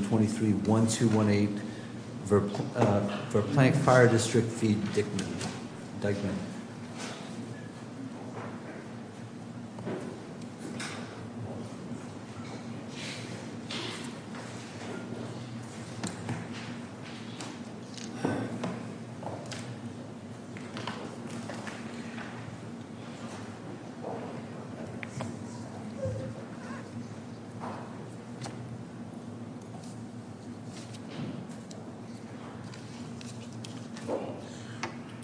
23-1218 Verplanck Fire District v. Dyckman.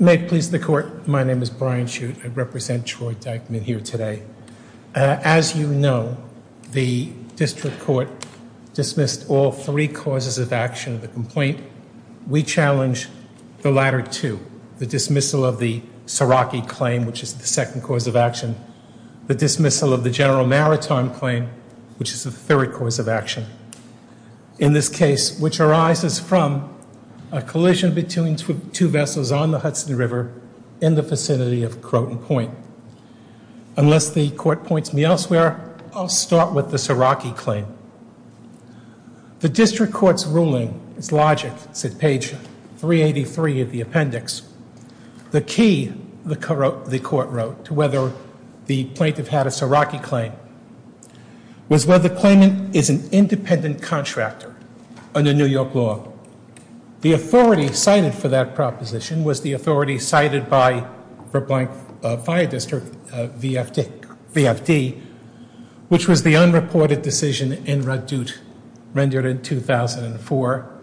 May it please the court, my name is Brian Chute, I represent Troy Dyckman here today. As you know, the district court dismissed all three causes of action of the complaint. We challenge the latter two. The dismissal of the Saraki claim, which is the second cause of action. The dismissal of the General Maritime claim, which is the third cause of action. In this case, which arises from a collision between two vessels on the Hudson River in the vicinity of Croton Point. Unless the court points me elsewhere, I'll start with the Saraki claim. The district court's ruling is logic. It's at page 383 of the appendix. The key, the court wrote, to whether the plaintiff had a Saraki claim, was whether the claimant is an independent contractor under New York law. The authority cited for that proposition was the authority cited by Verplanck Fire District, VFD, which was the unreported decision in Radut rendered in 2004,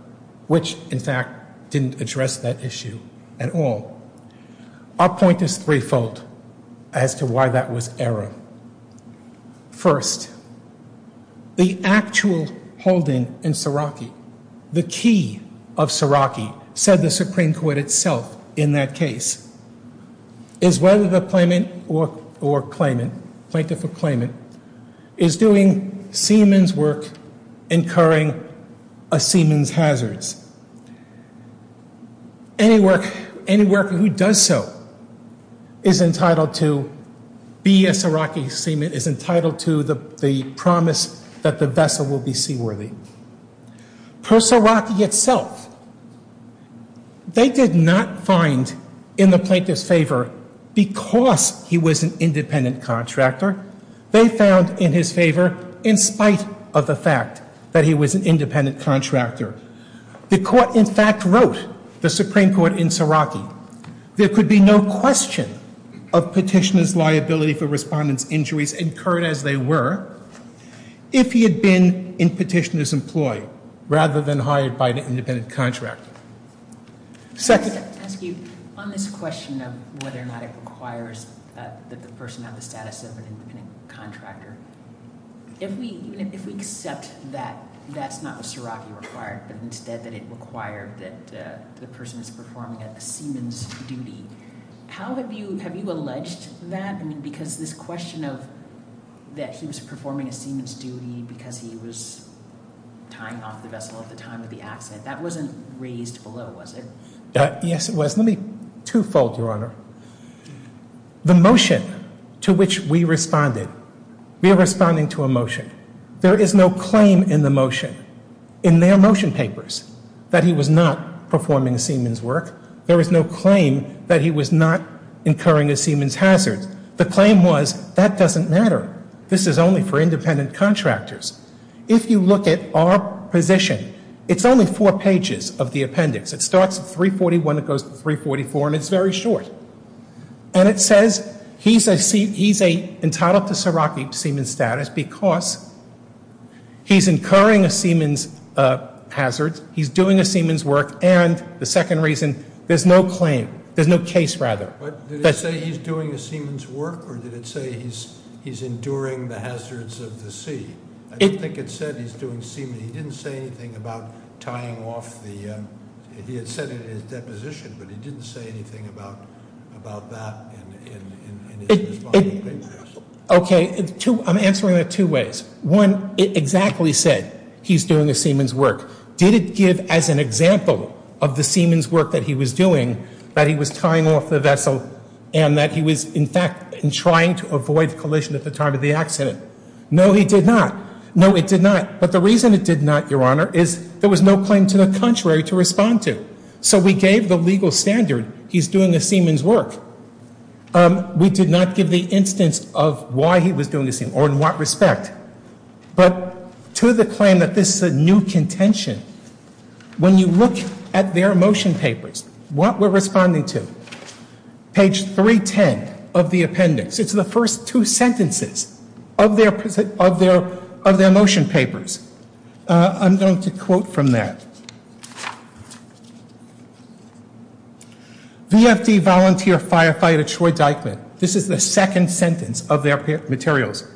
which in fact didn't address that issue at all. Our point is threefold as to why that was error. First, the actual holding in Saraki, the key of Saraki, said the Supreme Court itself in that case, is whether the claimant or claimant, plaintiff or claimant, is doing seaman's work incurring a seaman's hazards. Any worker who does so is entitled to be a Saraki seaman, is entitled to the promise that the vessel will be seaworthy. Per Saraki itself, they did not find in the plaintiff's favor because he was an independent contractor. They found in his favor in spite of the fact that he was an independent contractor. The court in fact wrote, the Supreme Court in Saraki, there could be no question of petitioner's liability for respondent's injuries incurred as they were if he had been in petitioner's employ rather than hired by an independent contractor. Second. On this question of whether or not it requires that the person have the status of an independent contractor, if we accept that that's not what Saraki required, but instead that it required that the person is performing a seaman's duty, have you alleged that? I mean, because this question of that he was performing a seaman's duty because he was tying off the vessel at the time of the accident, that wasn't raised below, was it? Yes, it was. Let me two-fold, Your Honor. The motion to which we responded, we are responding to a motion. There is no claim in the motion, in their motion papers, that he was not performing a seaman's work. There is no claim that he was not incurring a seaman's hazard. The claim was that doesn't matter. This is only for independent contractors. If you look at our position, it's only four pages of the appendix. It starts at 341, it goes to 344, and it's very short. And it says he's entitled to Saraki seaman's status because he's incurring a seaman's hazard, he's doing a seaman's work, and the second reason, there's no claim, there's no case, rather. Did it say he's doing a seaman's work or did it say he's enduring the hazards of the sea? I don't think it said he's doing seaman. He didn't say anything about tying off the, he had said it in his deposition, but he didn't say anything about that in his responding papers. Okay, I'm answering that two ways. One, it exactly said he's doing a seaman's work. Did it give as an example of the seaman's work that he was doing that he was tying off the vessel and that he was, in fact, trying to avoid collision at the time of the accident? No, he did not. No, it did not. But the reason it did not, Your Honor, is there was no claim to the contrary to respond to. So we gave the legal standard, he's doing a seaman's work. We did not give the instance of why he was doing the seaman's work or in what respect. But to the claim that this is a new contention, when you look at their motion papers, what we're responding to, page 310 of the appendix, it's the first two sentences of their motion papers. I'm going to quote from that. VFD volunteer firefighter Troy Dyckman, this is the second sentence of their materials,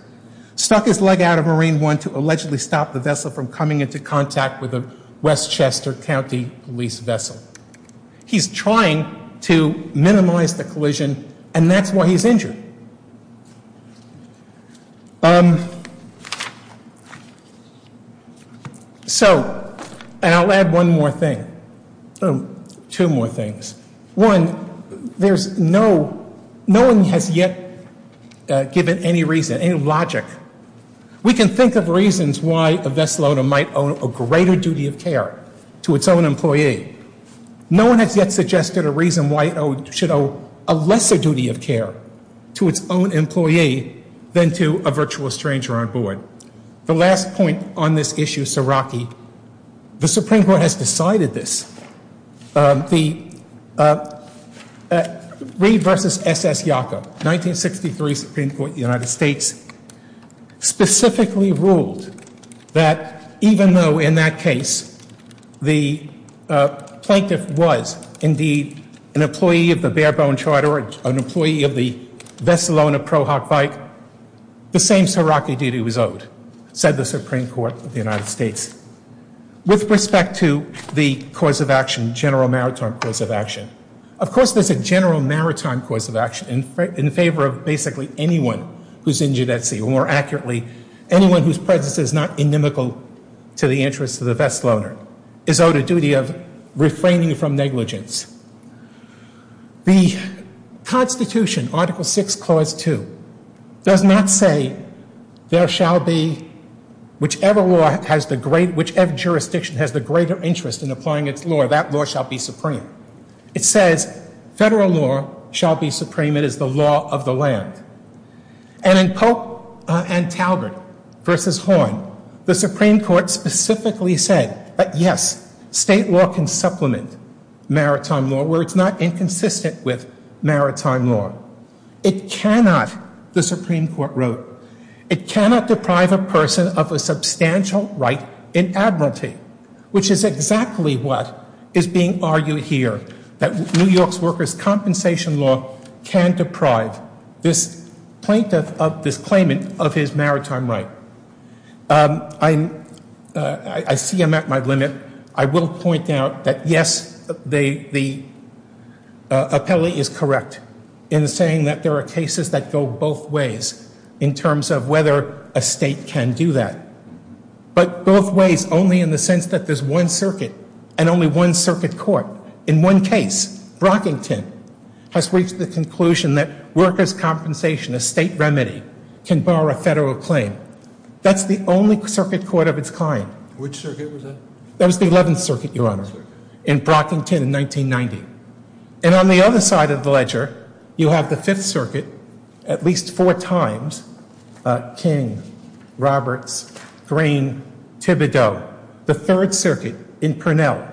stuck his leg out of Marine One to allegedly stop the vessel from coming into contact with a Westchester County police vessel. He's trying to minimize the collision, and that's why he's injured. So, and I'll add one more thing, two more things. One, there's no, no one has yet given any reason, any logic. We can think of reasons why a vessel owner might owe a greater duty of care to its own employee. No one has yet suggested a reason why it should owe a lesser duty of care to its own employee than to a virtual stranger on board. The last point on this issue, Siraki, the Supreme Court has decided this. The Reed versus S.S. Yacob, 1963 Supreme Court of the United States, specifically ruled that even though, in that case, the plaintiff was indeed an employee of the Barebone Charter, an employee of the Vessel Owner ProHawk Bike, the same Siraki duty was owed, said the Supreme Court of the United States. With respect to the cause of action, general maritime cause of action, of course there's a general maritime cause of action in favor of basically anyone who's injured at sea, or more accurately, anyone whose presence is not inimical to the interests of the vessel owner, is owed a duty of refraining from negligence. The Constitution, Article 6, Clause 2, does not say, there shall be, whichever law has the great, whichever jurisdiction has the greater interest in applying its law, that law shall be supreme. It says, federal law shall be supreme, it is the law of the land. And in Pope and Talbert versus Horn, the Supreme Court specifically said, that yes, state law can supplement maritime law, where it's not inconsistent with maritime law. It cannot, the Supreme Court wrote, it cannot deprive a person of a substantial right in admiralty, which is exactly what is being argued here, that New York's workers' compensation law can deprive this plaintiff of this claimant of his maritime right. I see I'm at my limit, I will point out that yes, the appellee is correct in saying that there are cases that go both ways, in terms of whether a state can do that. But both ways, only in the sense that there's one circuit, and only one circuit court, in one case, Brockington, has reached the conclusion that workers' compensation, a state remedy, can bar a federal claim. That's the only circuit court of its kind. Which circuit was that? That was the 11th Circuit, Your Honor, in Brockington in 1990. And on the other side of the ledger, you have the 5th Circuit, at least four times, King, Roberts, Green, Thibodeau, the 3rd Circuit in Purnell,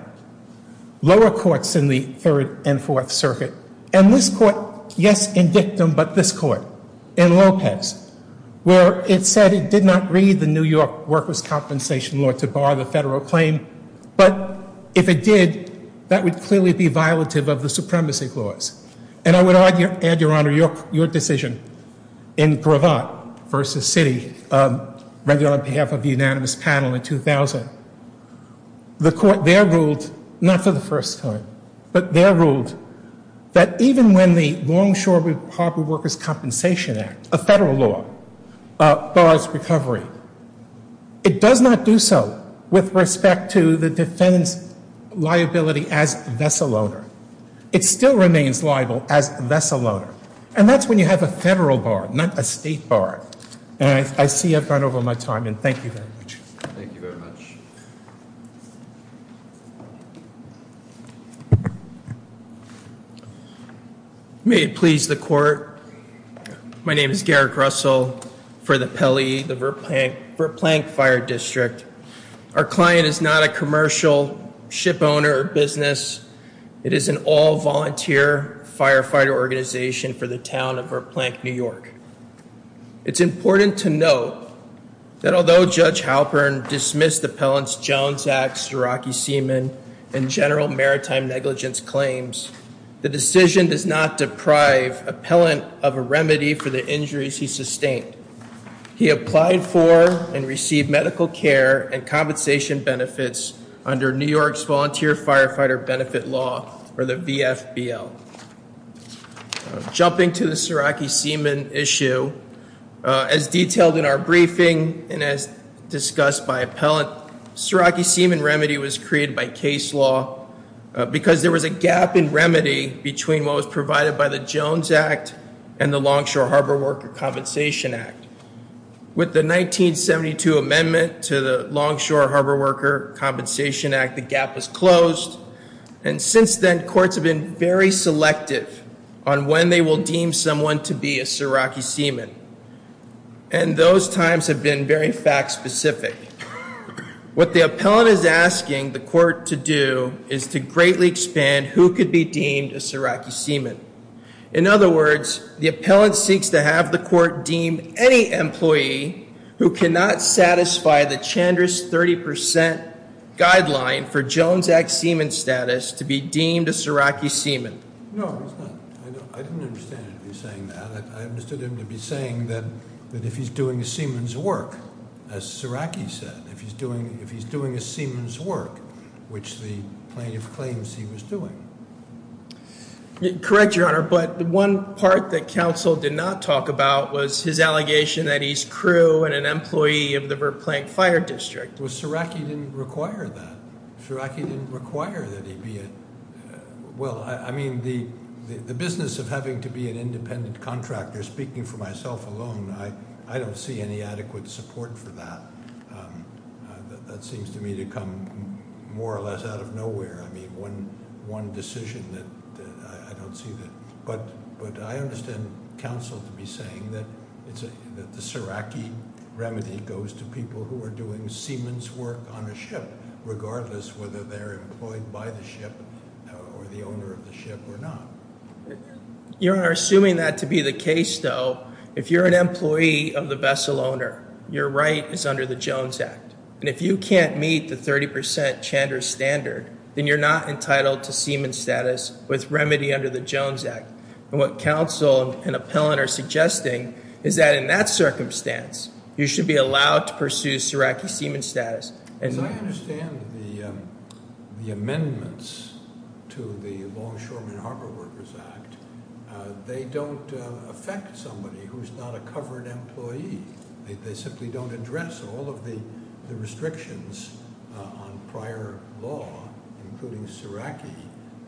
lower courts in the 3rd and 4th Circuit, and this court, yes, in dictum, but this court, in Lopez, where it said it did not read the New York workers' compensation law to bar the federal claim, but if it did, that would clearly be violative of the supremacy clause. And I would add, Your Honor, your decision in Gravatt v. City, rather on behalf of the unanimous panel in 2000, the court there ruled, not for the first time, but there ruled that even when the Longshoremen's Corporate Workers' Compensation Act, a federal law, bars recovery, it does not do so with respect to the defendant's liability as vessel owner. It still remains liable as vessel owner. And that's when you have a federal bar, not a state bar. And I see I've gone over my time, and thank you very much. Thank you very much. May it please the court. My name is Garrick Russell for the Pelley, the Verplank Fire District. Our client is not a commercial ship owner or business. It is an all-volunteer firefighter organization for the town of Verplank, New York. It's important to note that although Judge Halpern dismissed the Appellant's Jones Act, Suraki Seaman, and general maritime negligence claims, the decision does not deprive Appellant of a remedy for the injuries he sustained. He applied for and received medical care and compensation benefits under New York's Volunteer Firefighter Benefit Law, or the VFBL. Jumping to the Suraki Seaman issue, as detailed in our briefing and as discussed by Appellant, Suraki Seaman remedy was created by case law because there was a gap in remedy between what was provided by the Jones Act and the Longshore Harbor Worker Compensation Act. With the 1972 amendment to the Longshore Harbor Worker Compensation Act, the gap was closed, and since then courts have been very selective on when they will deem someone to be a Suraki Seaman. And those times have been very fact-specific. What the Appellant is asking the court to do is to greatly expand who could be deemed a Suraki Seaman. In other words, the Appellant seeks to have the court deem any employee who cannot satisfy the Chandra's 30% guideline for Jones Act Seaman status to be deemed a Suraki Seaman. No, I didn't understand him saying that. I understood him to be saying that if he's doing a Seaman's work, as Suraki said, if he's doing a Seaman's work, which the plaintiff claims he was doing. Correct, Your Honor, but one part that counsel did not talk about was his allegation that he's crew and an employee of the Verplank Fire District. Well, Suraki didn't require that. Suraki didn't require that he be a... Well, I mean, the business of having to be an independent contractor, speaking for myself alone, I don't see any adequate support for that. That seems to me to come more or less out of nowhere. I mean, one decision that I don't see that... But I understand counsel to be saying that the Suraki remedy goes to people who are doing Seaman's work on a ship, regardless whether they're employed by the ship or the owner of the ship or not. Your Honor, assuming that to be the case, though, if you're an employee of the vessel owner, your right is under the Jones Act. And if you can't meet the 30% Chandra standard, then you're not entitled to Seaman status with remedy under the Jones Act. And what counsel and appellant are suggesting is that in that circumstance, you should be allowed to pursue Suraki Seaman status. As I understand the amendments to the Longshoreman Harbor Workers Act, they don't affect somebody who's not a covered employee. They simply don't address all of the restrictions on prior law, including Suraki,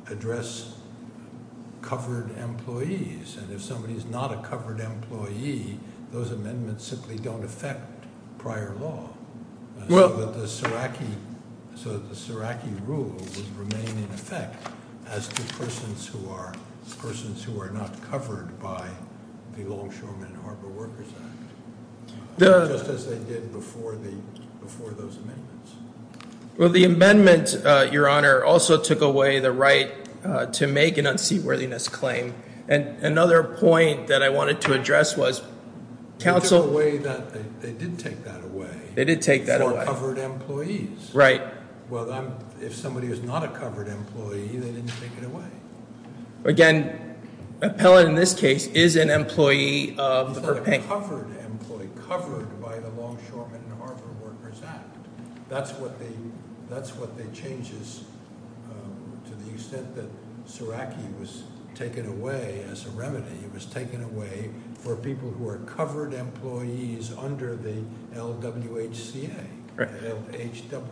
address covered employees. And if somebody's not a covered employee, those amendments simply don't affect prior law. So the Suraki rule would remain in effect as to persons who are not covered by the Longshoreman Harbor Workers Act, just as they did before those amendments. Well, the amendment, Your Honor, also took away the right to make an unseatworthiness claim. And another point that I wanted to address was counsel. They took away that. They didn't take that away. They did take that away. For covered employees. Right. Well, if somebody is not a covered employee, they didn't take it away. Again, Appellant in this case is an employee of- He's not a covered employee, covered by the Longshoreman Harbor Workers Act. That's what they changed to the extent that Suraki was taken away as a remedy. It was taken away for people who are covered employees under the LWHCA. Right. LHWCA.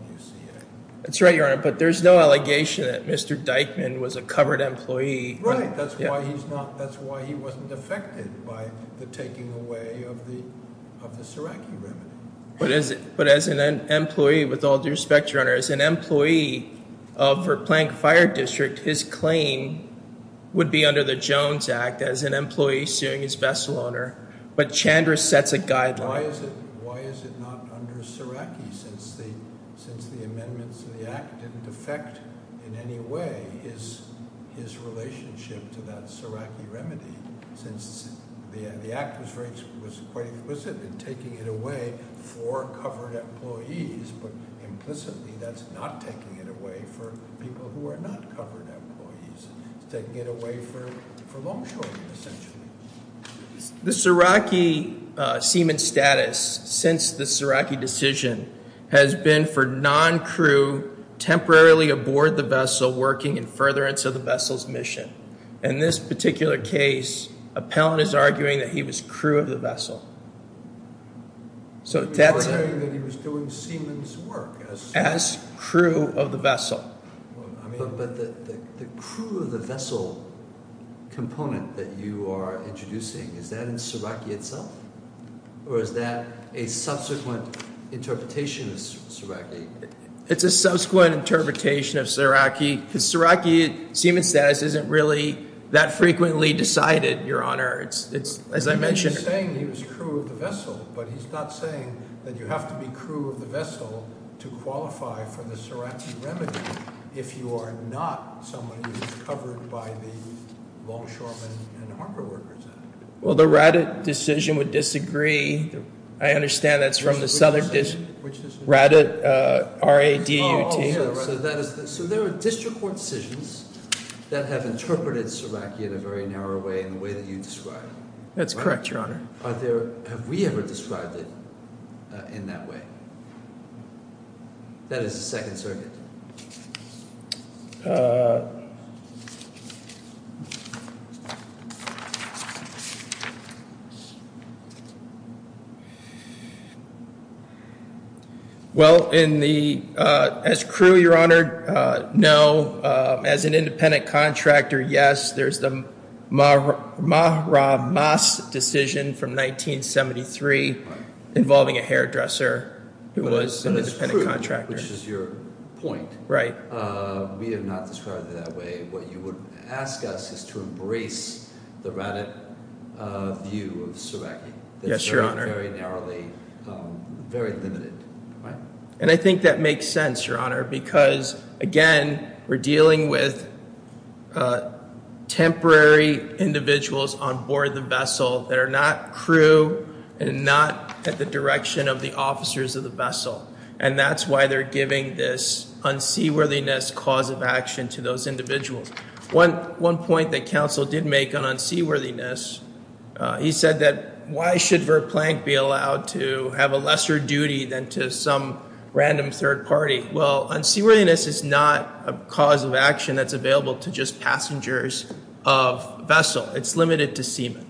That's right, Your Honor. But there's no allegation that Mr. Dyckman was a covered employee. Right. That's why he wasn't affected by the taking away of the Suraki remedy. But as an employee, with all due respect, Your Honor, as an employee for Plank Fire District, his claim would be under the Jones Act as an employee suing his vessel owner. But Chandra sets a guideline. Why is it not under Suraki since the amendments to the act didn't affect in any way his relationship to that Suraki remedy? Since the act was quite explicit in taking it away for covered employees, but implicitly that's not taking it away for people who are not covered employees. It's taking it away for Longshoreman, essentially. The Suraki seaman status since the Suraki decision has been for non-crew temporarily aboard the vessel working in furtherance of the vessel's mission. In this particular case, Appellant is arguing that he was crew of the vessel. So that's… He was doing seaman's work. As crew of the vessel. But the crew of the vessel component that you are introducing, is that in Suraki itself? Or is that a subsequent interpretation of Suraki? It's a subsequent interpretation of Suraki because Suraki seaman status isn't really that frequently decided, Your Honor, as I mentioned. He's saying he was crew of the vessel, but he's not saying that you have to be crew of the vessel to qualify for the Suraki remedy if you are not someone who is covered by the Longshoreman and Harbor Workers Act. Well, the Raddat decision would disagree. I understand that's from the Southern Raddat, R-A-D-U-T. So there are district court decisions that have interpreted Suraki in a very narrow way in the way that you described. That's correct, Your Honor. Have we ever described it in that way? That is the Second Circuit. Well, as crew, Your Honor, no. As an independent contractor, yes. There's the Mahra-Mas decision from 1973 involving a hairdresser who was an independent contractor. Which is your point. Right. We have not described it that way. What you would ask us is to embrace the Raddat view of Suraki. Yes, Your Honor. That's very narrowly, very limited. And I think that makes sense, Your Honor, because, again, we're dealing with temporary individuals on board the vessel that are not crew and not at the direction of the officers of the vessel. And that's why they're giving this unseaworthiness cause of action to those individuals. One point that counsel did make on unseaworthiness, he said that why should Verplank be allowed to have a lesser duty than to some random third party? Well, unseaworthiness is not a cause of action that's available to just passengers of vessel. It's limited to seamen.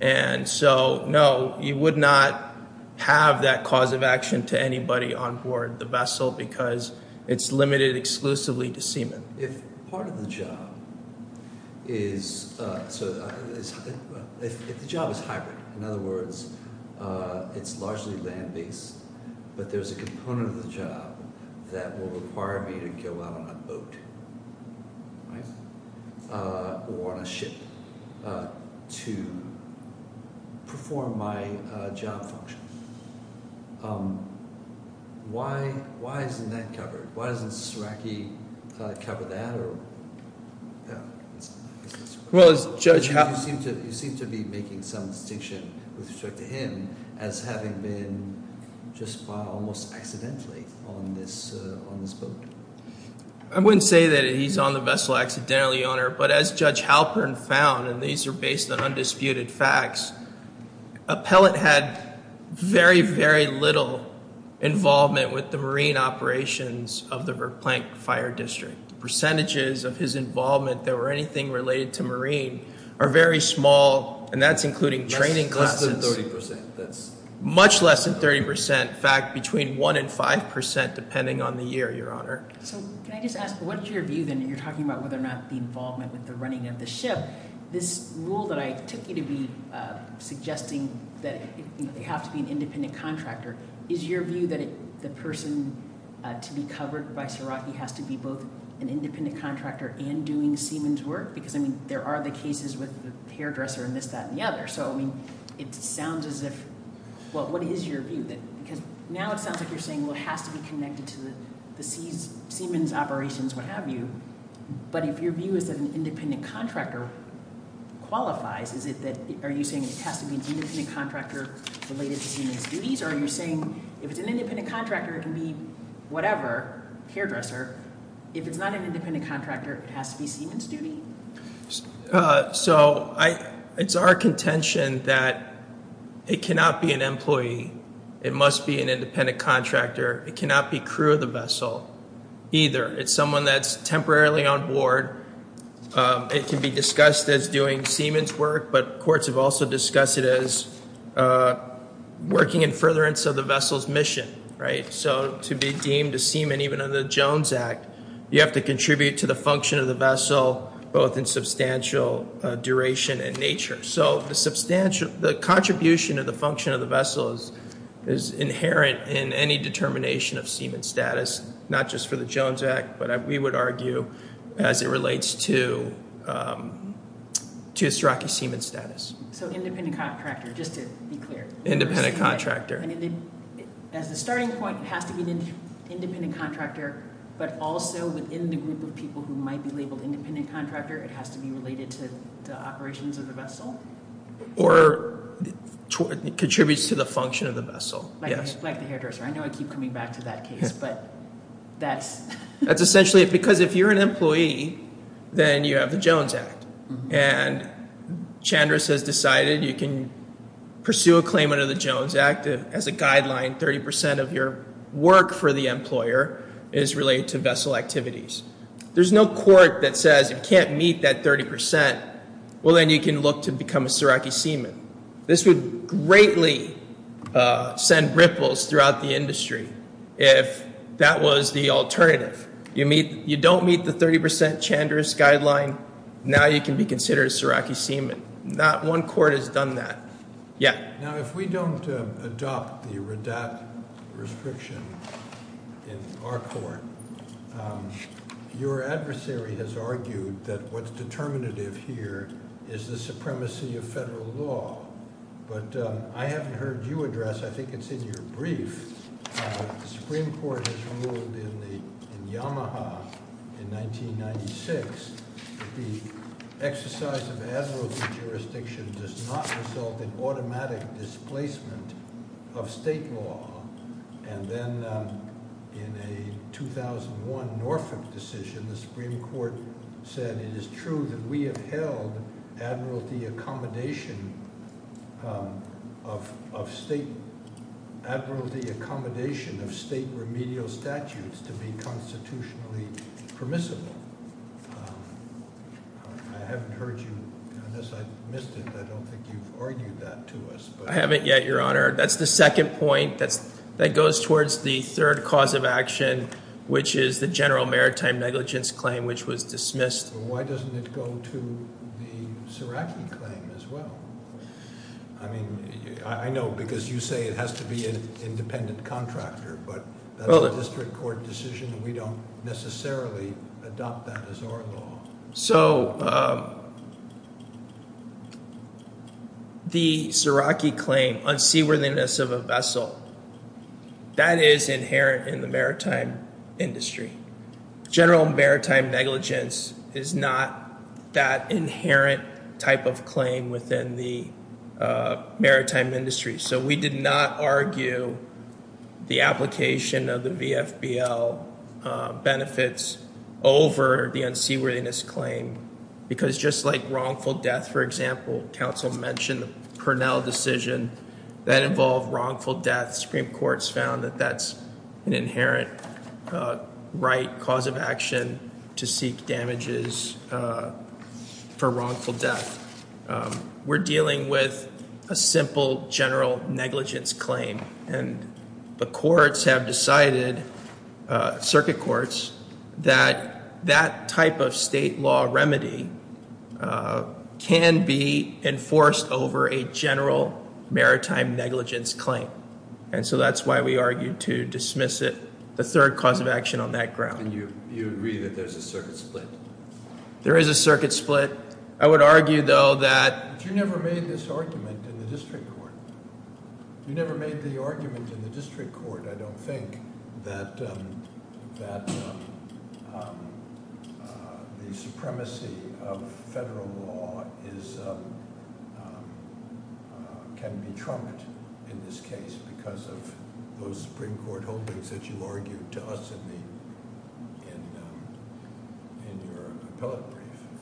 And so, no, you would not have that cause of action to anybody on board the vessel because it's limited exclusively to seamen. If part of the job is – if the job is hybrid, in other words, it's largely land based, but there's a component of the job that will require me to go out on a boat or on a ship to perform my job function, why isn't that covered? Why doesn't Ceraki cover that or – yeah. Well, Judge Halpern – You seem to be making some distinction with respect to him as having been just almost accidentally on this boat. I wouldn't say that he's on the vessel accidentally, Your Honor, but as Judge Halpern found, and these are based on undisputed facts, Appellant had very, very little involvement with the marine operations of the Verplank Fire District. Percentages of his involvement that were anything related to marine are very small, and that's including training classes. Less than 30 percent. Much less than 30 percent. In fact, between 1 and 5 percent depending on the year, Your Honor. So can I just ask what is your view then? You're talking about whether or not the involvement with the running of the ship. This rule that I took you to be suggesting that you have to be an independent contractor, is your view that the person to be covered by Ceraki has to be both an independent contractor and doing seamen's work? Because, I mean, there are the cases with the hairdresser and this, that, and the other. So, I mean, it sounds as if – well, what is your view? Because now it sounds like you're saying, well, it has to be connected to the seamen's operations, what have you. But if your view is that an independent contractor qualifies, is it that – are you saying it has to be an independent contractor related to seamen's duties? Or are you saying if it's an independent contractor, it can be whatever, hairdresser. If it's not an independent contractor, it has to be seamen's duty? So it's our contention that it cannot be an employee. It must be an independent contractor. It cannot be crew of the vessel either. It's someone that's temporarily on board. It can be discussed as doing seamen's work, but courts have also discussed it as working in furtherance of the vessel's mission, right? So to be deemed a seaman, even under the Jones Act, you have to contribute to the function of the vessel, both in substantial duration and nature. So the contribution of the function of the vessel is inherent in any determination of seaman status, not just for the Jones Act, but we would argue as it relates to a Ceraki seaman status. So independent contractor, just to be clear. Independent contractor. As a starting point, it has to be an independent contractor, but also within the group of people who might be labeled independent contractor, it has to be related to the operations of the vessel? Or contributes to the function of the vessel. Like the hairdresser. I know I keep coming back to that case, but that's... That's essentially because if you're an employee, then you have the Jones Act. And Chandris has decided you can pursue a claim under the Jones Act as a guideline, 30% of your work for the employer is related to vessel activities. There's no court that says you can't meet that 30%. Well, then you can look to become a Ceraki seaman. This would greatly send ripples throughout the industry if that was the alternative. You don't meet the 30% Chandris guideline, now you can be considered a Ceraki seaman. Not one court has done that. Now if we don't adopt the RADAT restriction in our court, your adversary has argued that what's determinative here is the supremacy of federal law. But I haven't heard you address, I think it's in your brief. The Supreme Court has ruled in Yamaha in 1996 that the exercise of admiralty jurisdiction does not result in automatic displacement of state law. And then in a 2001 Norfolk decision, the Supreme Court said it is true that we have held admiralty accommodation of state remedial statutes to be constitutionally permissible. I haven't heard you, unless I missed it, I don't think you've argued that to us. I haven't yet, your honor. That's the second point that goes towards the third cause of action, which is the general maritime negligence claim, which was dismissed. Why doesn't it go to the Ceraki claim as well? I mean, I know because you say it has to be an independent contractor, but that's a district court decision and we don't necessarily adopt that as our law. So the Ceraki claim, unseaworthiness of a vessel, that is inherent in the maritime industry. General maritime negligence is not that inherent type of claim within the maritime industry. So we did not argue the application of the VFBL benefits over the unseaworthiness claim. Because just like wrongful death, for example, counsel mentioned the Purnell decision that involved wrongful death. Supreme Court's found that that's an inherent right cause of action to seek damages for wrongful death. We're dealing with a simple general negligence claim and the courts have decided, circuit courts, that that type of state law remedy can be enforced over a general maritime negligence claim. And so that's why we argued to dismiss it, the third cause of action on that ground. You agree that there's a circuit split? There is a circuit split. I would argue, though, that... You never made this argument in the district court. You never made the argument in the district court, I don't think, that the supremacy of federal law can be trumped in this case because of those Supreme Court holdings that you argued to us in your case.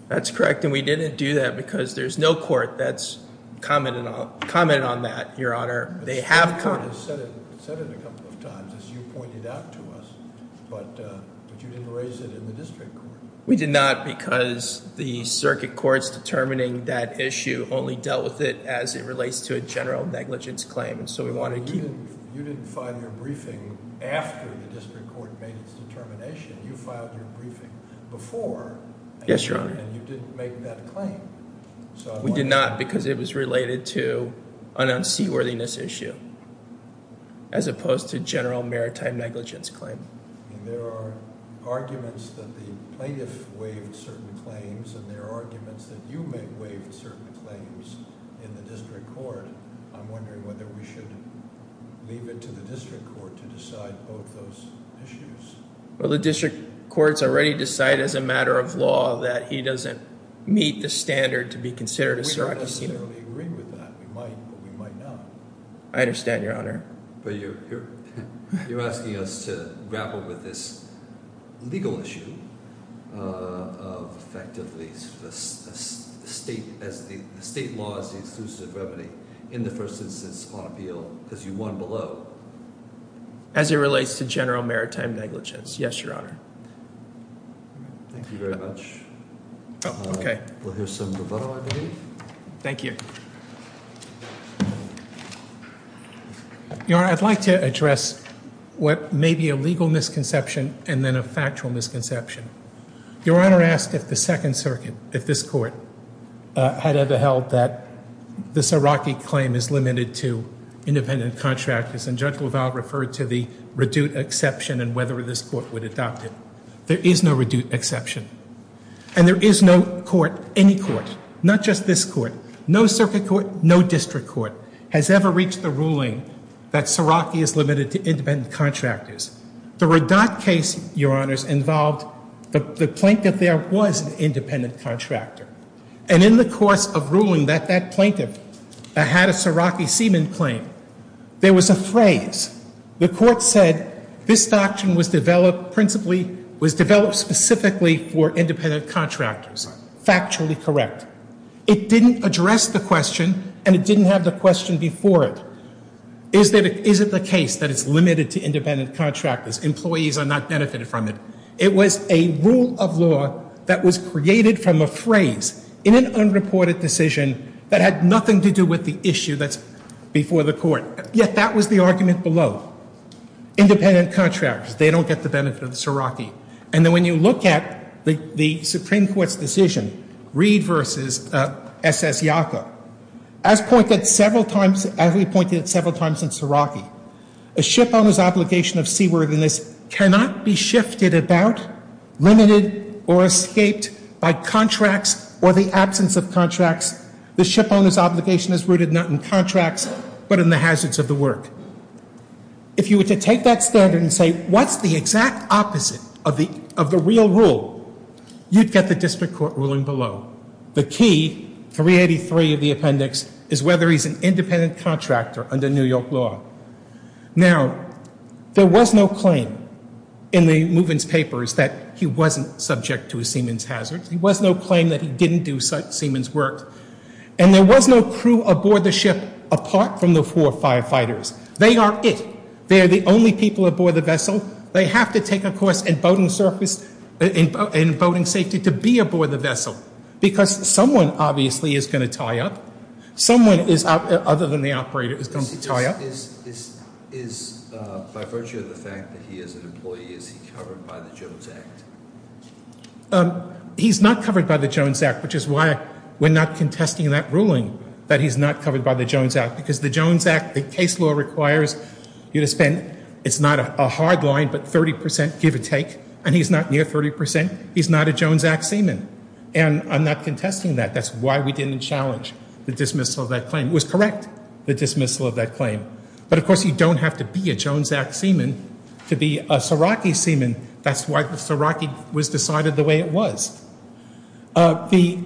That's correct, and we didn't do that because there's no court that's commented on that, Your Honor. The Supreme Court has said it a couple of times, as you pointed out to us, but you didn't raise it in the district court. We did not because the circuit court's determining that issue only dealt with it as it relates to a general negligence claim. You didn't file your briefing after the district court made its determination. You filed your briefing before. Yes, Your Honor. And you didn't make that claim. We did not because it was related to an unseaworthiness issue as opposed to general maritime negligence claim. There are arguments that the plaintiff waived certain claims, and there are arguments that you waived certain claims in the district court. I'm wondering whether we should leave it to the district court to decide both those issues. We don't necessarily agree with that. We might, but we might not. I understand, Your Honor. But you're asking us to grapple with this legal issue of effectively the state law is the exclusive remedy in the first instance on appeal because you won below. As it relates to general maritime negligence. Yes, Your Honor. Thank you very much. Okay. We'll hear some rebuttal, I believe. Thank you. Your Honor, I'd like to address what may be a legal misconception and then a factual misconception. Your Honor asked if the Second Circuit, if this court, had ever held that this Iraqi claim is limited to independent contractors, and Judge LaValle referred to the redute exception and whether this court would adopt it. There is no redute exception. And there is no court, any court, not just this court, no circuit court, no district court, has ever reached the ruling that Seraki is limited to independent contractors. The reduct case, Your Honors, involved the plaintiff there was an independent contractor. And in the course of ruling that that plaintiff had a Seraki seaman claim, there was a phrase. The court said this doctrine was developed principally, was developed specifically for independent contractors. Factually correct. It didn't address the question and it didn't have the question before it. Is it the case that it's limited to independent contractors? Employees are not benefited from it. It was a rule of law that was created from a phrase in an unreported decision that had nothing to do with the issue that's before the court. Yet that was the argument below. Independent contractors, they don't get the benefit of the Seraki. And then when you look at the Supreme Court's decision, Reed v. S.S. Yacob, as pointed several times, as we pointed several times in Seraki, a shipowner's obligation of seaworthiness cannot be shifted about, limited, or escaped by contracts or the absence of contracts. The shipowner's obligation is rooted not in contracts but in the hazards of the work. If you were to take that standard and say, what's the exact opposite of the real rule? You'd get the district court ruling below. The key, 383 of the appendix, is whether he's an independent contractor under New York law. Now, there was no claim in the Movens papers that he wasn't subject to a Siemens hazard. There was no claim that he didn't do Siemens work. And there was no crew aboard the ship apart from the four firefighters. They are it. They are the only people aboard the vessel. They have to take a course in boating safety to be aboard the vessel because someone, obviously, is going to tie up. Someone is, other than the operator, is going to tie up. Is, by virtue of the fact that he is an employee, is he covered by the Jones Act? He's not covered by the Jones Act, which is why we're not contesting that ruling, that he's not covered by the Jones Act. Because the Jones Act, the case law requires you to spend, it's not a hard line, but 30 percent give or take. And he's not near 30 percent. He's not a Jones Act Seaman. And I'm not contesting that. That's why we didn't challenge the dismissal of that claim. It was correct, the dismissal of that claim. But, of course, you don't have to be a Jones Act Seaman to be a Saraki Seaman. And that's why the Saraki was decided the way it was. The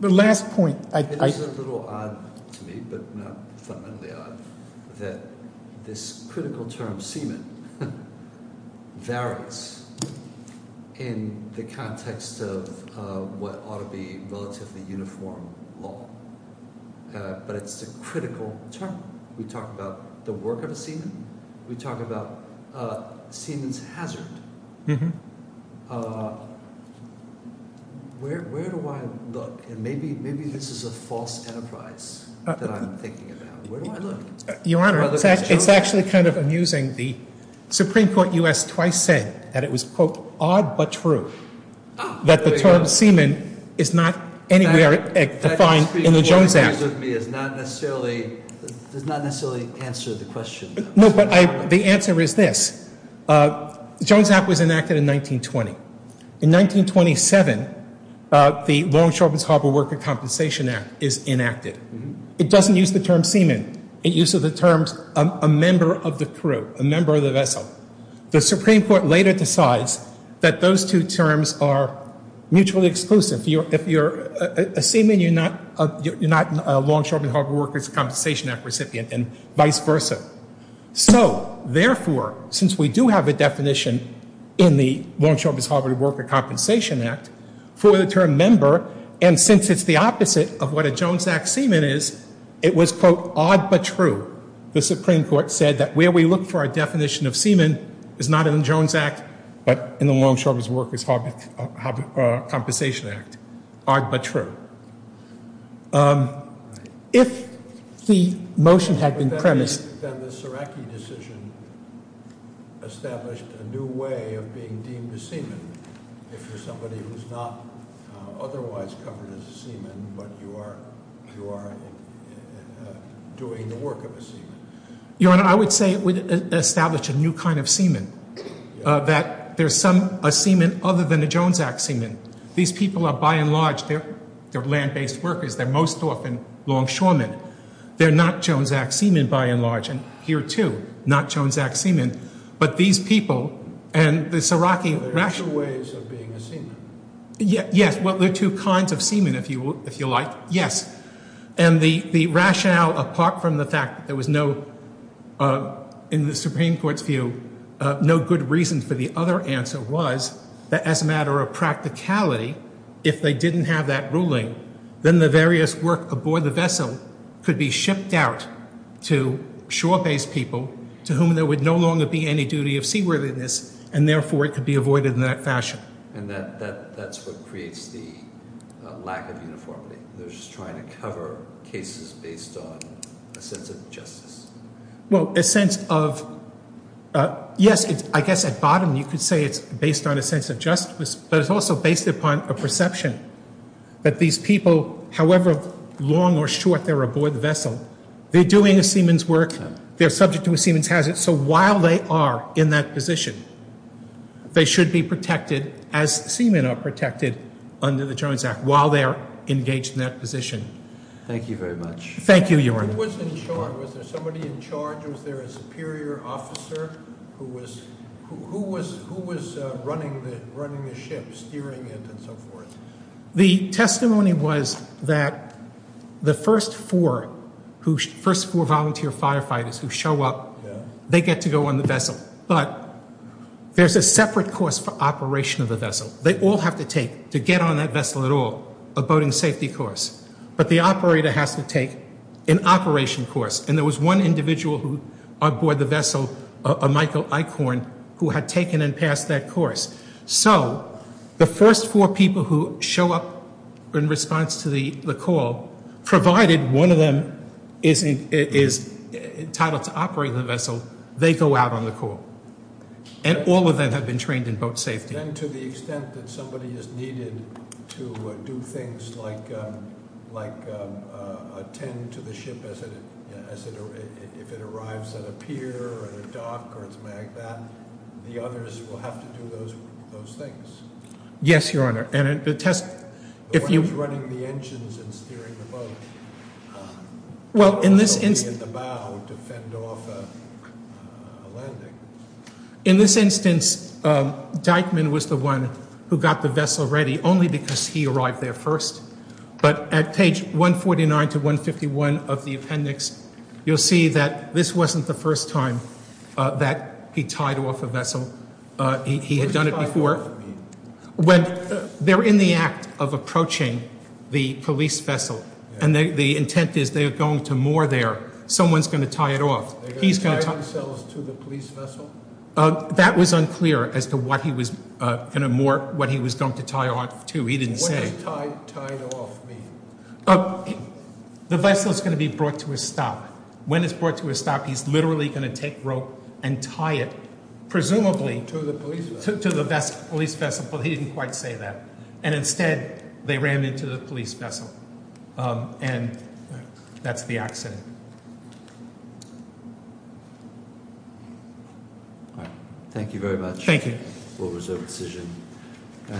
last point. It is a little odd to me, but not fundamentally odd, that this critical term, Seaman, varies in the context of what ought to be relatively uniform law. But it's a critical term. We talk about the work of a Seaman. We talk about Seaman's hazard. Where do I look? And maybe this is a false enterprise that I'm thinking about. Where do I look? Your Honor, it's actually kind of amusing. The Supreme Court U.S. twice said that it was, quote, odd but true, that the term Seaman is not anywhere defined in the Jones Act. It does not necessarily answer the question. No, but the answer is this. The Jones Act was enacted in 1920. In 1927, the Longshoremen's Harbor Worker Compensation Act is enacted. It doesn't use the term Seaman. It uses the terms a member of the crew, a member of the vessel. The Supreme Court later decides that those two terms are mutually exclusive. If you're a Seaman, you're not a Longshoremen's Harbor Worker Compensation Act recipient and vice versa. So, therefore, since we do have a definition in the Longshoremen's Harbor Worker Compensation Act for the term member, and since it's the opposite of what a Jones Act Seaman is, it was, quote, odd but true. The Supreme Court said that where we look for a definition of Seaman is not in the Jones Act, but in the Longshoremen's Harbor Worker Compensation Act. Odd but true. If the motion had been premised. Then the Ceracki decision established a new way of being deemed a Seaman. If you're somebody who's not otherwise covered as a Seaman, but you are doing the work of a Seaman. Your Honor, I would say it would establish a new kind of Seaman, that there's a Seaman other than a Jones Act Seaman. These people are, by and large, they're land-based workers. They're most often Longshoremen. They're not Jones Act Seaman, by and large, and here, too, not Jones Act Seaman. But these people and the Ceracki rationale. There are two ways of being a Seaman. Yes, well, there are two kinds of Seaman, if you like. Yes. And the rationale, apart from the fact that there was no, in the Supreme Court's view, no good reason for the other answer was that as a matter of practicality, if they didn't have that ruling, then the various work aboard the vessel could be shipped out to shore-based people, to whom there would no longer be any duty of seaworthiness, and, therefore, it could be avoided in that fashion. And that's what creates the lack of uniformity. They're just trying to cover cases based on a sense of justice. Well, a sense of, yes, I guess at bottom you could say it's based on a sense of justice, but it's also based upon a perception that these people, however long or short they're aboard the vessel, they're doing a Seaman's work. They're subject to a Seaman's hazard, so while they are in that position, they should be protected as Seaman are protected under the Jones Act while they're engaged in that position. Thank you very much. Thank you, Your Honor. Who was in charge? Was there somebody in charge? Was there a superior officer? Who was running the ship, steering it, and so forth? The testimony was that the first four volunteer firefighters who show up, they get to go on the vessel, but there's a separate course for operation of the vessel. They all have to take, to get on that vessel at all, a boating safety course, but the operator has to take an operation course, and there was one individual who aboard the vessel, Michael Eichhorn, who had taken and passed that course. So the first four people who show up in response to the call, provided one of them is entitled to operate the vessel, they go out on the call, and all of them have been trained in boat safety. And then to the extent that somebody is needed to do things like attend to the ship as it, if it arrives at a pier or a dock or something like that, the others will have to do those things? Yes, Your Honor. And the test, if you- The one who's running the engines and steering the boat. Well, in this instance- And the bow to fend off a landing. In this instance, Dyckman was the one who got the vessel ready, only because he arrived there first. But at page 149 to 151 of the appendix, you'll see that this wasn't the first time that he tied off a vessel. He had done it before. When they're in the act of approaching the police vessel, and the intent is they are going to moor there, someone's going to tie it off. They're going to tie themselves to the police vessel? That was unclear as to what he was going to tie off to. He didn't say. What does tied off mean? The vessel's going to be brought to a stop. When it's brought to a stop, he's literally going to take rope and tie it, presumably- To the police vessel. To the police vessel, but he didn't quite say that. And instead, they ran into the police vessel, and that's the accident. Thank you very much. Thank you. We'll reserve a decision.